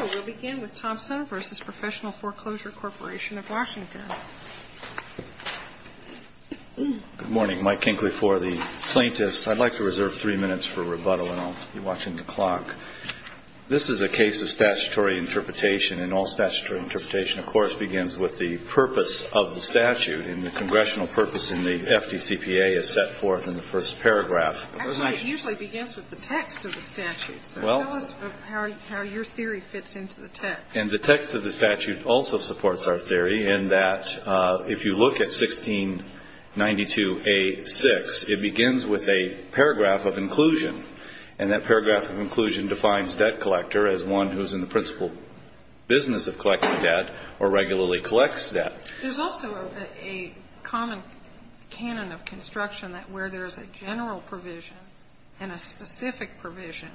oration of Washington. Good morning. Mike Kinkley for the plaintiffs. I'd like to reserve three minutes for rebuttal and I'll be watching the clock. This is a case of statutory interpretation and all statutory interpretation, of course, begins with the purpose of the statute. And the congressional purpose in the FDCPA is set forth in the first paragraph. Actually, it usually begins with the text of the statute. So tell us how your theory fits into that. And the text of the statute also supports our theory in that if you look at 1692A6, it begins with a paragraph of inclusion. And that paragraph of inclusion defines debt collector as one who's in the principal business of collecting debt or regularly collects debt. There's also a common canon of construction that where there's a general provision and a specific provision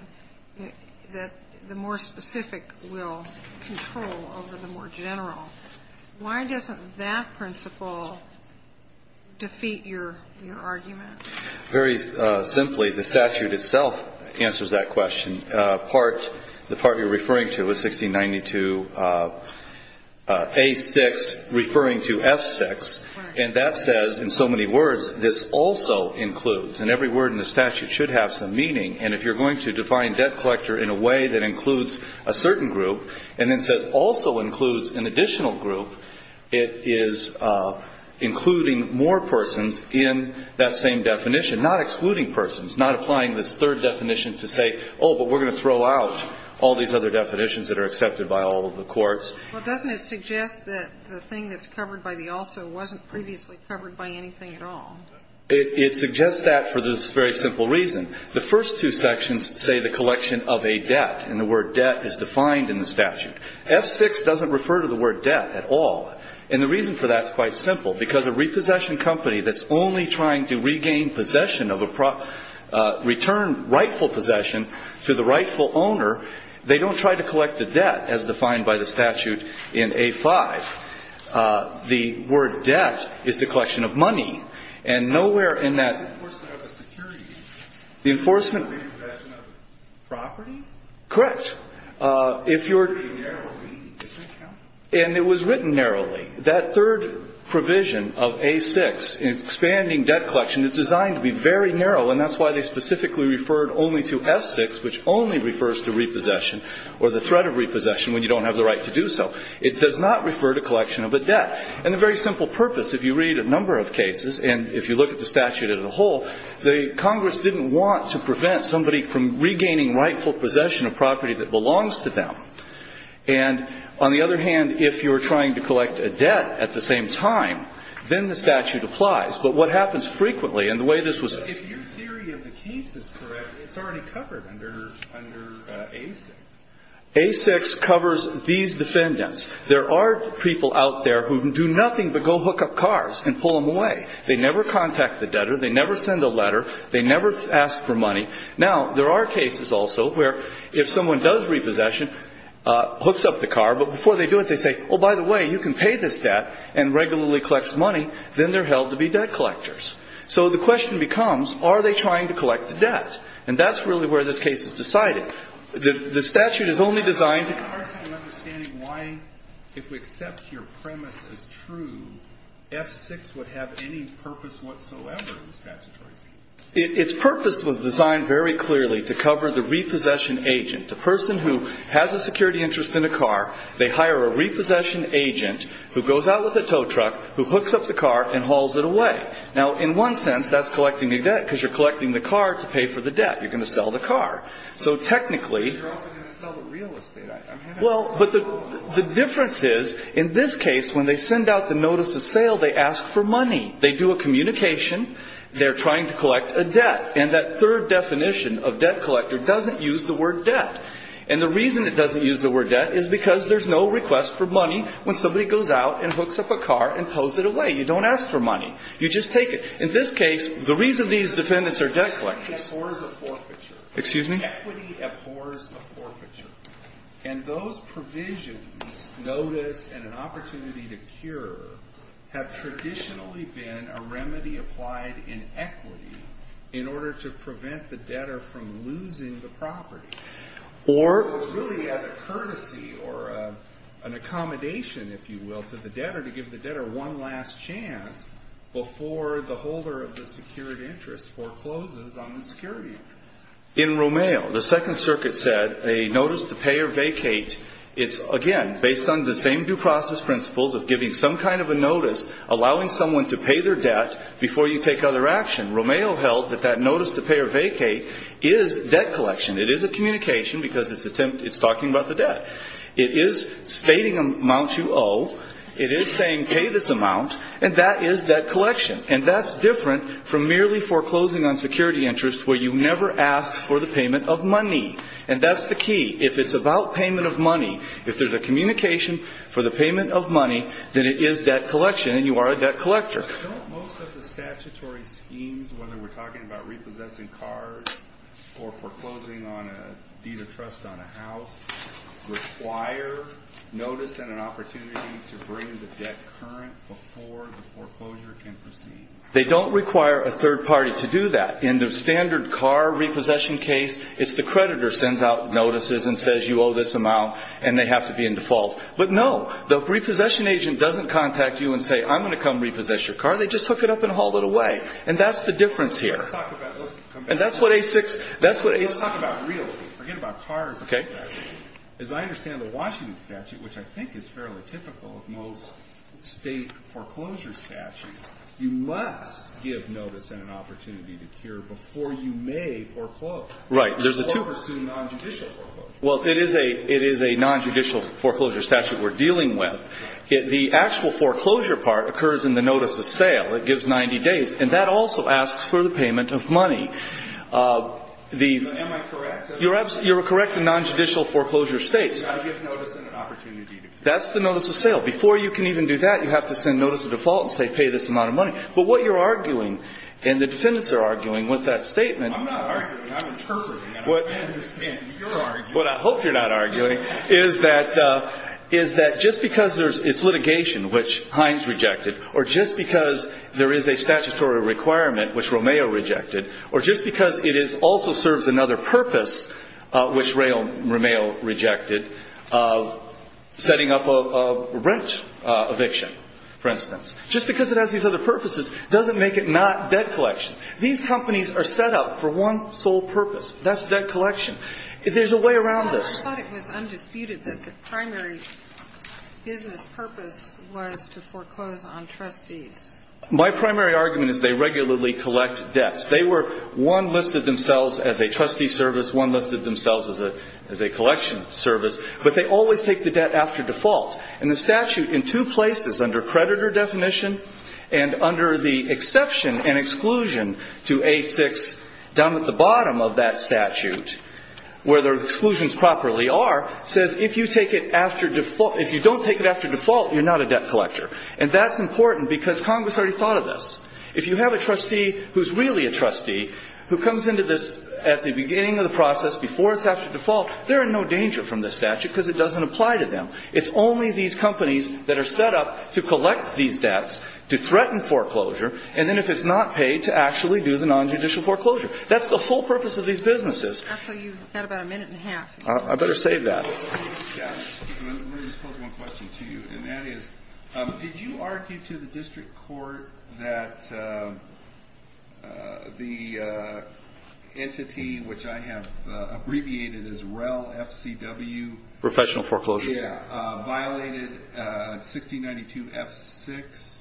that the more specific will control over the more general. Why doesn't that principle defeat your argument? Very simply, the statute itself answers that question. The part you're referring to is 1692A6 referring to F6. And that says in so many words, this also includes. And every word in the statute should have some meaning. And if you're going to define debt collector in a way that includes a certain group and then says also includes an additional group, it is including more persons in that same definition, not excluding persons, not applying this third definition to say, oh, but we're going to throw out all these other definitions that are accepted by all of the courts. Well, doesn't it suggest that the thing that's covered by the also wasn't previously covered by anything at all? It suggests that for this very simple reason. The first two sections say the collection of a debt, and the word debt is defined in the statute. F6 doesn't refer to the word debt at all. And the reason for that is quite simple, because a repossession company that's only trying to regain possession of a return, rightful possession to the rightful owner, they don't try to collect the debt as defined by the statute in A5. The word debt is the collection of money. And nowhere in that. The enforcement of a security. The enforcement. Repossession of property. Correct. If you're. Narrowly. And it was written narrowly. That third provision of A6, expanding debt collection, is designed to be very narrow, and that's why they specifically referred only to F6, which only refers to repossession or the threat of repossession when you don't have the right to do so. It does not refer to collection of a debt. And the very simple purpose, if you read a number of cases, and if you look at the statute as a whole, the Congress didn't want to prevent somebody from regaining rightful possession of property that belongs to them. And on the other hand, if you were trying to collect a debt at the same time, then the statute applies. But what happens frequently, and the way this was. If your theory of the case is correct, it's already covered under A6. A6 covers these defendants. There are people out there who do nothing but go hook up cars and pull them away. They never contact the debtor. They never send a letter. They never ask for money. Now, there are cases also where if someone does repossession, hooks up the car, but before they do it, they say, oh, by the way, you can pay this debt, and regularly collects money. Then they're held to be debt collectors. So the question becomes, are they trying to collect the debt? And that's really where this case is decided. The statute is only designed to cover. Alito. It's hard to understand why, if we accept your premise as true, F6 would have any purpose whatsoever in the statutory statute. Its purpose was designed very clearly to cover the repossession agent, the person who has a security interest in a car. They hire a repossession agent who goes out with a tow truck, who hooks up the car and hauls it away. Now, in one sense, that's collecting a debt, because you're collecting the car to pay for the debt. You're going to sell the car. So technically you're also going to sell the real estate. Well, but the difference is, in this case, when they send out the notice of sale, they ask for money. They do a communication. They're trying to collect a debt. And that third definition of debt collector doesn't use the word debt. And the reason it doesn't use the word debt is because there's no request for money when somebody goes out and hooks up a car and tows it away. You don't ask for money. You just take it. In this case, the reason these defendants are debt collectors. Equity abhors a forfeiture. Excuse me? Equity abhors a forfeiture. And those provisions, notice and an opportunity to cure, have traditionally been a remedy applied in equity in order to prevent the debtor from losing the property. Or it was really as a courtesy or an accommodation, if you will, to the debtor to give the debtor one last chance before the holder of the secured interest forecloses on the security. In Romeo, the Second Circuit said a notice to pay or vacate is, again, based on the same due process principles of giving some kind of a notice, allowing someone to pay their debt before you take other action. Romeo held that that notice to pay or vacate is debt collection. It is a communication because it's talking about the debt. It is stating amounts you owe. It is saying pay this amount. And that is debt collection. And that's different from merely foreclosing on security interest where you never ask for the payment of money. And that's the key. If it's about payment of money, if there's a communication for the payment of money, then it is debt collection and you are a debt collector. Don't most of the statutory schemes, whether we're talking about repossessing cars or foreclosing on a deed of trust on a house, require notice and an opportunity to bring the debt current before the foreclosure can proceed? They don't require a third party to do that. In the standard car repossession case, it's the creditor sends out notices and says you owe this amount and they have to be in default. But no, the repossession agent doesn't contact you and say I'm going to come repossess your car. They just hook it up and haul it away. And that's the difference here. And that's what A6 – that's what A6 – Let's talk about realty. Forget about cars. Okay. As I understand the Washington statute, which I think is fairly typical of most state foreclosure statutes, you must give notice and an opportunity to cure before you may foreclose. Right. Or pursue nonjudicial foreclosure. Well, it is a nonjudicial foreclosure statute we're dealing with. The actual foreclosure part occurs in the notice of sale. It gives 90 days. And that also asks for the payment of money. Am I correct? You're correct in nonjudicial foreclosure states. I give notice and an opportunity. That's the notice of sale. Before you can even do that, you have to send notice of default and say pay this amount of money. But what you're arguing and the defendants are arguing with that statement – I'm not arguing. I'm interpreting. I understand. What I hope you're not arguing is that just because it's litigation, which Hines rejected, or just because there is a statutory requirement, which Romeo rejected, or just because it also serves another purpose, which Romeo rejected, of setting up a rent eviction, for instance. Just because it has these other purposes doesn't make it not debt collection. These companies are set up for one sole purpose. That's debt collection. There's a way around this. I thought it was undisputed that the primary business purpose was to foreclose on trustees. My primary argument is they regularly collect debts. They were – one listed themselves as a trustee service. One listed themselves as a collection service. But they always take the debt after default. And the statute in two places, under creditor definition and under the exception and exclusion to A6 down at the bottom of that statute, where the exclusions properly are, says if you take it after – if you don't take it after default, you're not a debt collector. And that's important because Congress already thought of this. If you have a trustee who's really a trustee who comes into this at the beginning of the process, before it's after default, they're in no danger from this statute because it doesn't apply to them. It's only these companies that are set up to collect these debts, to threaten foreclosure, and then if it's not paid, to actually do the nonjudicial foreclosure. That's the full purpose of these businesses. Actually, you've got about a minute and a half. I better save that. Yeah. Let me just pose one question to you, and that is, did you argue to the district court that the entity, which I have abbreviated as REL FCW. Professional foreclosure. Yeah. Violated 1692 F6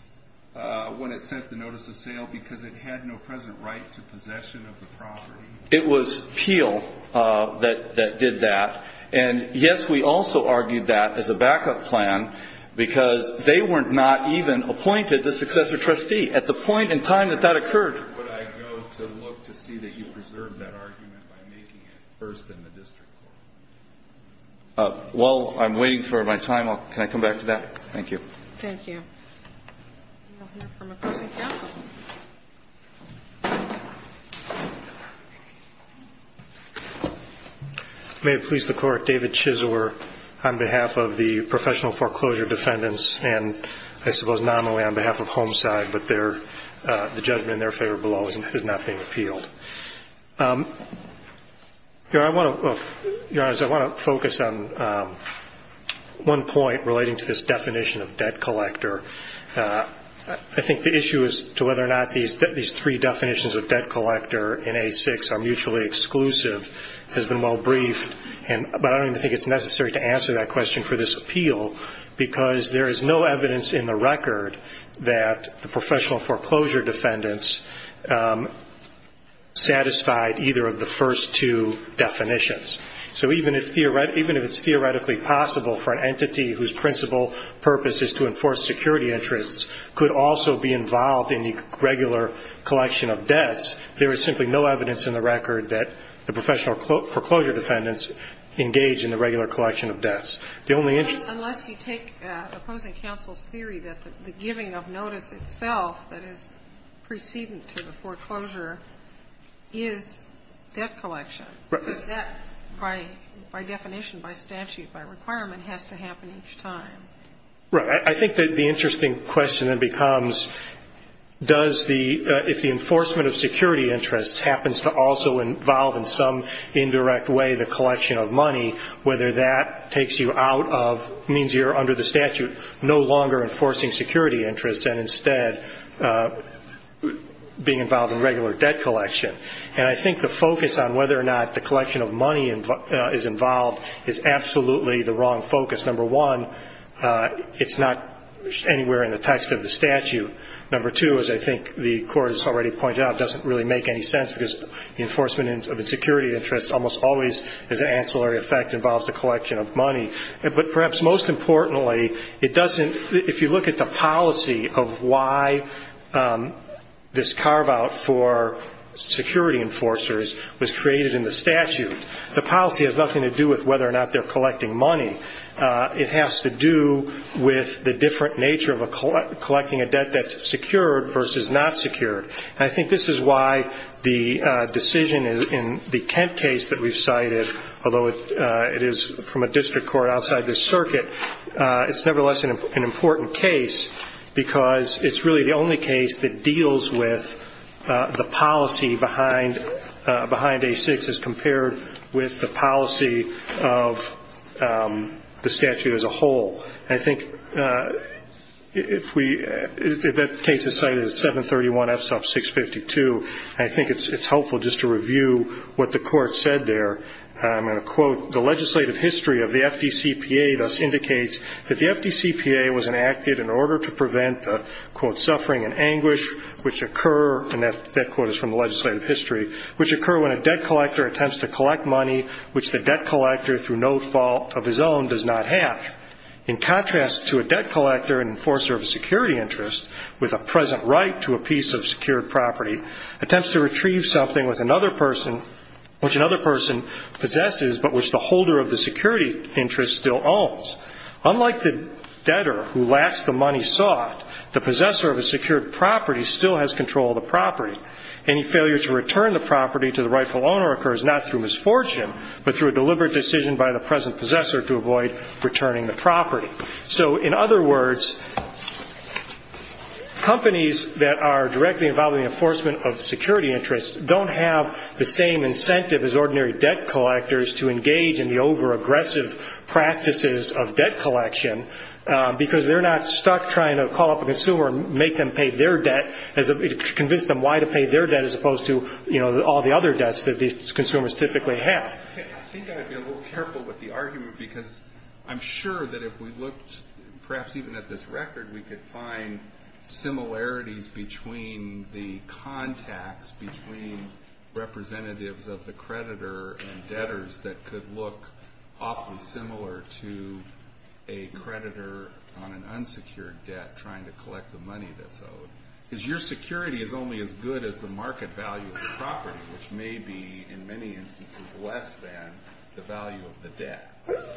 when it sent the notice of sale because it had no present right to possession of the property. It was Peel that did that. And, yes, we also argued that as a backup plan because they were not even appointed the successor trustee. At the point in time that that occurred. Where would I go to look to see that you preserved that argument by making it first in the district court? Well, I'm waiting for my time. Can I come back to that? Thank you. Thank you. May it please the court, David Chisler on behalf of the professional foreclosure defendants, and I suppose nominally on behalf of Homeside, but the judgment in their favor below is not being appealed. Your Honor, I want to focus on one point relating to this definition of debt collector. I think the issue as to whether or not these three definitions of debt collector in A6 are mutually exclusive has been well briefed, but I don't even think it's necessary to answer that question for this appeal because there is no evidence in the record that the professional foreclosure defendants satisfied either of the first two definitions. So even if it's theoretically possible for an entity whose principal purpose is to enforce security interests could also be involved in the regular collection of debts, there is simply no evidence in the record that the professional foreclosure defendants engage in the regular collection of debts. Unless you take opposing counsel's theory that the giving of notice itself that is precedent to the foreclosure is debt collection. Is that by definition, by statute, by requirement has to happen each time? Right. I think the interesting question then becomes does the ‑‑ if the enforcement of security interests happens to also involve in some indirect way the collection of money, whether that takes you out of means you're under the statute no longer enforcing security interests and instead being involved in regular debt collection. And I think the focus on whether or not the collection of money is involved is absolutely the wrong focus. Number one, it's not anywhere in the text of the statute. Number two, as I think the court has already pointed out, doesn't really make any sense because the enforcement of a security interest almost always as an ancillary effect involves the collection of money. But perhaps most importantly, it doesn't ‑‑ if you look at the policy of why this carveout for security enforcers was created in the statute, the policy has nothing to do with whether or not they're collecting money. It has to do with the different nature of collecting a debt that's secured versus not secured. And I think this is why the decision in the Kent case that we've cited, although it is from a district court outside this circuit, it's nevertheless an important case because it's really the only case that deals with the policy behind A6 as compared with the policy of the statute as a whole. And I think if we ‑‑ if that case is cited, it's 731F sub 652. And I think it's helpful just to review what the court said there. And I'm going to quote, the legislative history of the FDCPA thus indicates that the FDCPA was enacted in order to prevent, quote, suffering and anguish which occur, and that quote is from the legislative history, which occur when a debt collector attempts to collect money which the debt collector, through no fault of his own, does not have. In contrast to a debt collector and enforcer of a security interest, with a present right to a piece of secured property, attempts to retrieve something which another person possesses but which the holder of the security interest still owns. Unlike the debtor who lacks the money sought, the possessor of a secured property still has control of the property. Any failure to return the property to the rightful owner occurs not through misfortune but through a deliberate decision by the present possessor to avoid returning the property. So in other words, companies that are directly involved in the enforcement of security interests don't have the same incentive as ordinary debt collectors to engage in the overaggressive practices of debt collection because they're not stuck trying to call up a consumer and make them pay their debt to convince them why to pay their debt as opposed to, you know, all the other debts that these consumers typically have. I think I would be a little careful with the argument because I'm sure that if we looked perhaps even at this record, we could find similarities between the contacts between representatives of the creditor and debtors that could look often similar to a creditor on an unsecured debt trying to collect the money that's owed. Because your security is only as good as the market value of the property, which may be, in many instances, less than the value of the debt.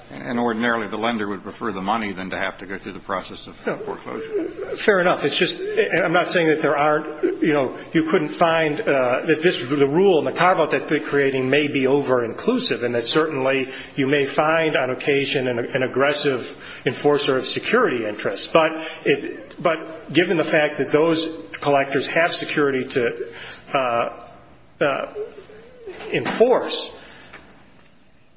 And ordinarily the lender would prefer the money than to have to go through the process of foreclosure. Fair enough. It's just I'm not saying that there aren't, you know, you couldn't find that this rule in the Carve Out that they're creating may be over-inclusive and that certainly you may find on occasion an aggressive enforcer of security interests. But given the fact that those collectors have security to enforce,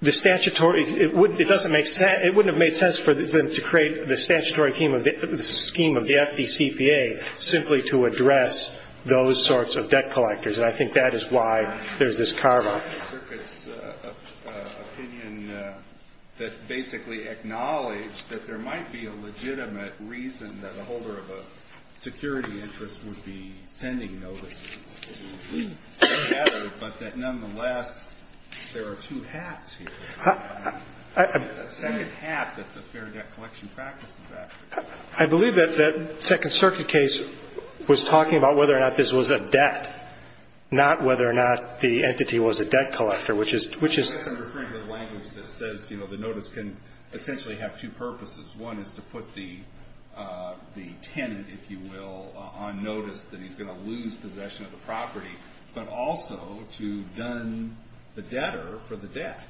it wouldn't have made sense for them to create the statutory scheme of the FDCPA simply to address those sorts of debt collectors. And I think that is why there's this Carve Out. The Second Circuit's opinion that basically acknowledged that there might be a legitimate reason that a holder of a security interest would be sending notices to a debtor, but that nonetheless there are two hats here. It's a second hat that the Fair Debt Collection practice is after. I believe that that Second Circuit case was talking about whether or not this was a debt, not whether or not the entity was a debt collector, which is. I'm referring to the language that says, you know, the notice can essentially have two purposes. One is to put the tenant, if you will, on notice that he's going to lose possession of the property, but also to done the debtor for the debt.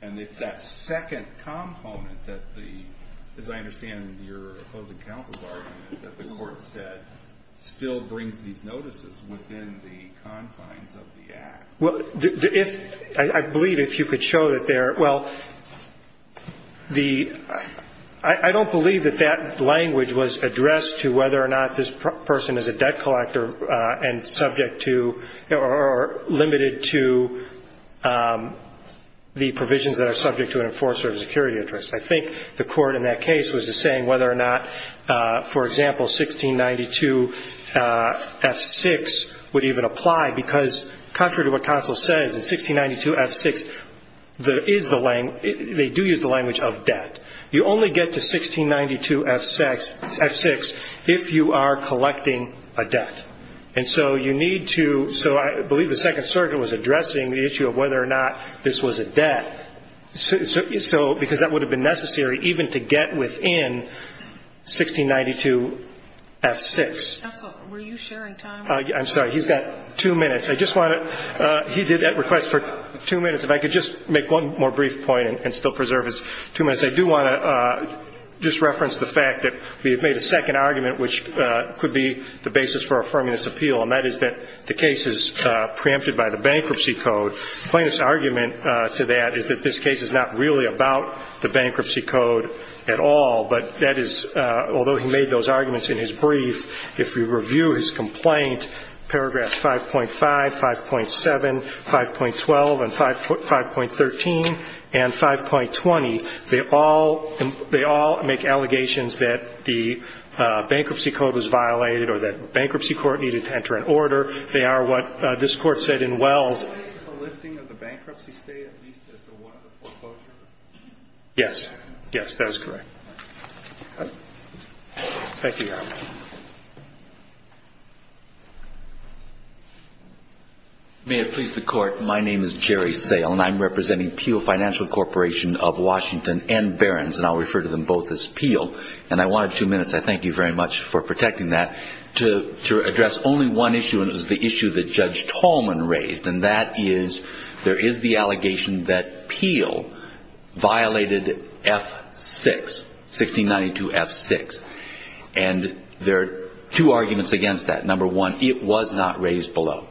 And if that second component that the, as I understand your opposing counsel's argument, that the court said still brings these notices within the confines of the act. Well, if, I believe if you could show that there, well, the, I don't believe that that language was addressed to whether or not this person is a debt collector and subject to or limited to the provisions that are subject to an enforcer of security interest. I think the court in that case was just saying whether or not, for example, 1692 F6 would even apply, because contrary to what counsel says, in 1692 F6 there is the, they do use the language of debt. You only get to 1692 F6 if you are collecting a debt. And so you need to, so I believe the Second Circuit was addressing the issue of whether or not this was a debt, so because that would have been necessary even to get within 1692 F6. Counsel, were you sharing time? I'm sorry. He's got two minutes. I just want to, he did that request for two minutes. If I could just make one more brief point and still preserve his two minutes. I do want to just reference the fact that we have made a second argument, which could be the basis for affirming this appeal, and that is that the case is preempted by the bankruptcy code. The plaintiff's argument to that is that this case is not really about the bankruptcy code at all, but that is, although he made those arguments in his brief, if you review his complaint, paragraph 5.5, 5.7, 5.12, and 5.13, and 5.20, they all make allegations that the bankruptcy code was violated or that bankruptcy court needed to enter an order. They are what this Court said in Wells. Is the lifting of the bankruptcy stay at least as to what the foreclosure is? Yes. Yes, that is correct. Thank you, Your Honor. May it please the Court, my name is Jerry Sale, and I'm representing Peel Financial Corporation of Washington and Barron's, and I'll refer to them both as Peel. And I wanted two minutes, I thank you very much for protecting that, to address only one issue, and it was the issue that Judge Tallman raised, and that is there is the allegation that Peel violated F-6, 1692 F-6. And there are two arguments against that. Number one, it was not raised below.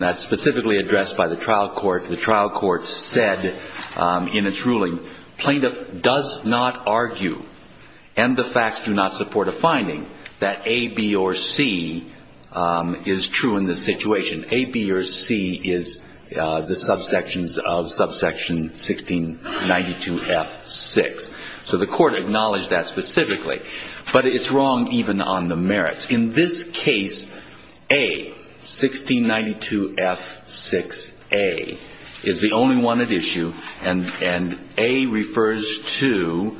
That's specifically addressed by the trial court. The trial court said in its ruling, plaintiff does not argue, and the facts do not support a finding, that A, B, or C is true in this situation. A, B, or C is the subsections of subsection 1692 F-6. So the court acknowledged that specifically. But it's wrong even on the merits. In this case, A, 1692 F-6A, is the only one at issue, and A refers to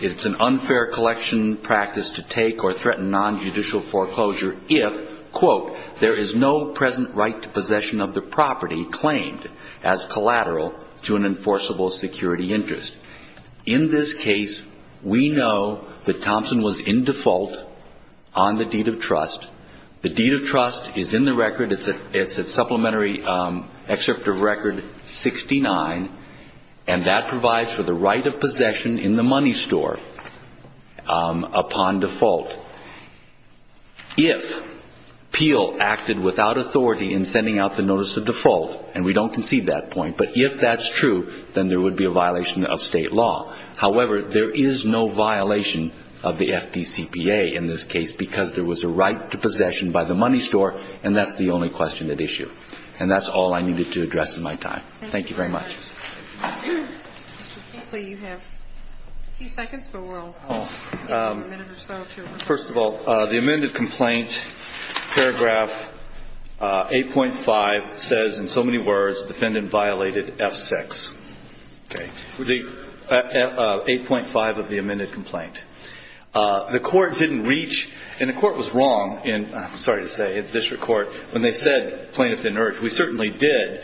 it's an unfair collection practice to take or threaten nonjudicial foreclosure if, quote, there is no present right to possession of the property claimed as collateral to an enforceable security interest. In this case, we know that Thompson was in default on the deed of trust. The deed of trust is in the record. It's a supplementary excerpt of record 69, and that provides for the right of possession in the money store upon default. If Peel acted without authority in sending out the notice of default, and we don't concede that point, but if that's true, then there would be a violation of state law. However, there is no violation of the FDCPA in this case because there was a right to possession by the money store, and that's the only question at issue. And that's all I needed to address in my time. Thank you very much. Mr. Kinkley, you have a few seconds, but we'll take a minute or so. First of all, the amended complaint, paragraph 8.5, says in so many words, defendant violated F-6. Okay. 8.5 of the amended complaint. The court didn't reach, and the court was wrong in, I'm sorry to say, at the district court, when they said plaintiff didn't urge. We certainly did,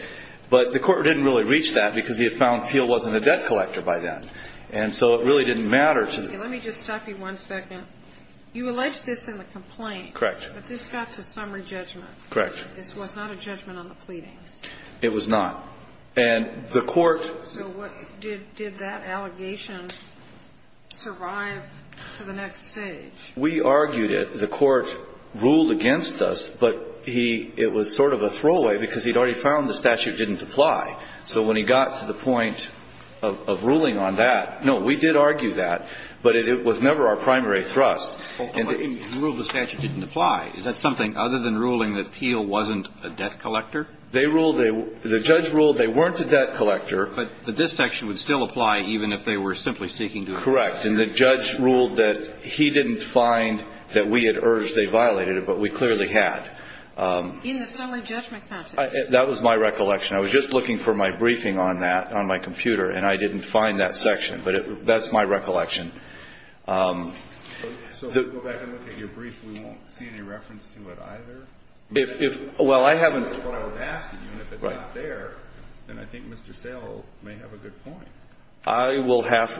but the court didn't really reach that because he had found Peel wasn't a debt collector by then, and so it really didn't matter to the court. Let me just stop you one second. You alleged this in the complaint. Correct. But this got to summary judgment. Correct. This was not a judgment on the pleadings. It was not. So did that allegation survive to the next stage? We argued it. The court ruled against us, but it was sort of a throwaway because he'd already found the statute didn't apply. So when he got to the point of ruling on that, no, we did argue that, but it was never our primary thrust. But you ruled the statute didn't apply. Is that something other than ruling that Peel wasn't a debt collector? They ruled they weren't. The judge ruled they weren't a debt collector. But this section would still apply even if they were simply seeking to appeal. Correct. And the judge ruled that he didn't find that we had urged they violated it, but we clearly had. In the summary judgment context. That was my recollection. I was just looking for my briefing on that on my computer, and I didn't find that section, but that's my recollection. So if we go back and look at your brief, we won't see any reference to it either? Well, I haven't. That's what I was asking you, and if it's not there, then I think Mr. Sale may have a good point.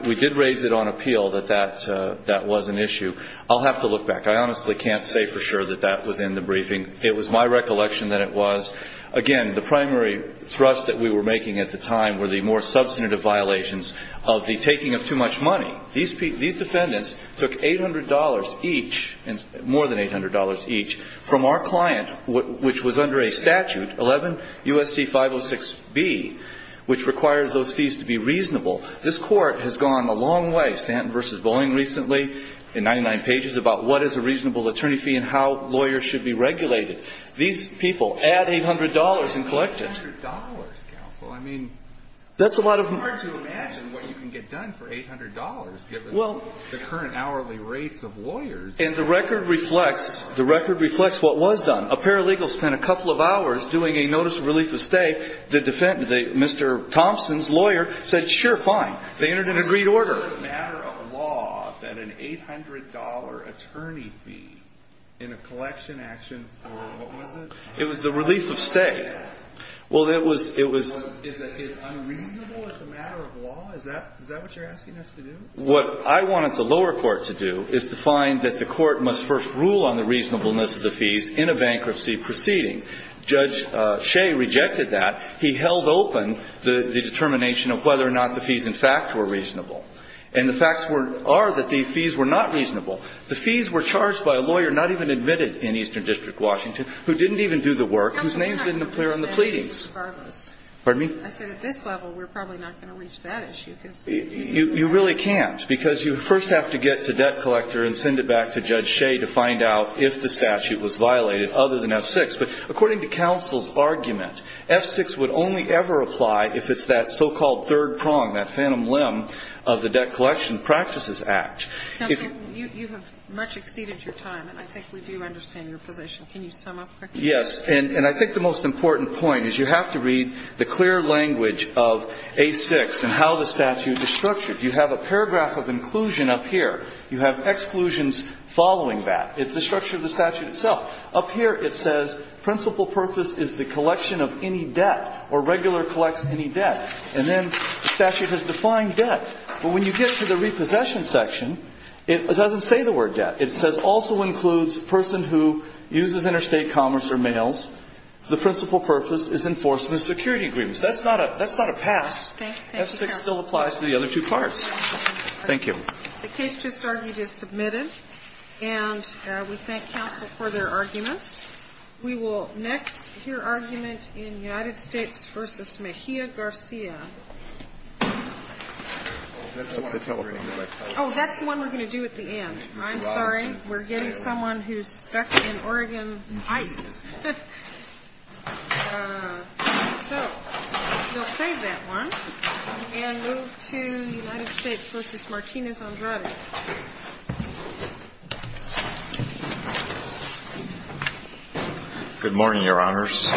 We did raise it on appeal that that was an issue. I'll have to look back. I honestly can't say for sure that that was in the briefing. It was my recollection that it was. Again, the primary thrust that we were making at the time were the more substantive violations of the taking of too much money. These defendants took $800 each, more than $800 each, from our client, which was under a statute, 11 U.S.C. 506B, which requires those fees to be reasonable. This Court has gone a long way, Stanton v. Boeing recently, in 99 pages, about what is a reasonable attorney fee and how lawyers should be regulated. These people add $800 and collect it. $800, counsel. I mean, it's hard to imagine what you can get done for $800, given the current hourly rates of lawyers. And the record reflects what was done. A paralegal spent a couple of hours doing a notice of relief of stay. Mr. Thompson's lawyer said, sure, fine. They entered an agreed order. It was a matter of law that an $800 attorney fee in a collection action for what was it? It was the relief of stay. Well, it was unreasonable as a matter of law? Is that what you're asking us to do? What I wanted the lower court to do is to find that the court must first rule on the reasonableness of the fees in a bankruptcy proceeding. Judge Shea rejected that. He held open the determination of whether or not the fees, in fact, were reasonable. And the facts are that the fees were not reasonable. The fees were charged by a lawyer not even admitted in Eastern District, Washington, who didn't even do the work, whose name didn't appear on the pleadings. I said at this level we're probably not going to reach that issue. You really can't, because you first have to get to debt collector and send it back to Judge Shea to find out if the statute was violated, other than F6. But according to counsel's argument, F6 would only ever apply if it's that so-called third prong, that phantom limb of the Debt Collection Practices Act. Counsel, you have much exceeded your time, and I think we do understand your position. Can you sum up quickly? Yes. And I think the most important point is you have to read the clear language of A6 and how the statute is structured. You have a paragraph of inclusion up here. You have exclusions following that. It's the structure of the statute itself. Up here it says principal purpose is the collection of any debt or regular collects any debt. And then the statute has defined debt. But when you get to the repossession section, it doesn't say the word debt. It says also includes person who uses interstate commerce or mails. The principal purpose is enforcement of security agreements. That's not a pass. Thank you, counsel. F6 still applies to the other two parts. Thank you. The case just argued is submitted. And we thank counsel for their arguments. We will next hear argument in United States v. Mejia Garcia. Oh, that's the one we're going to do at the end. I'm sorry. We're getting someone who's stuck in Oregon ice. So we'll save that one and move to United States v. Martinez-Andrade. Good morning, Your Honors.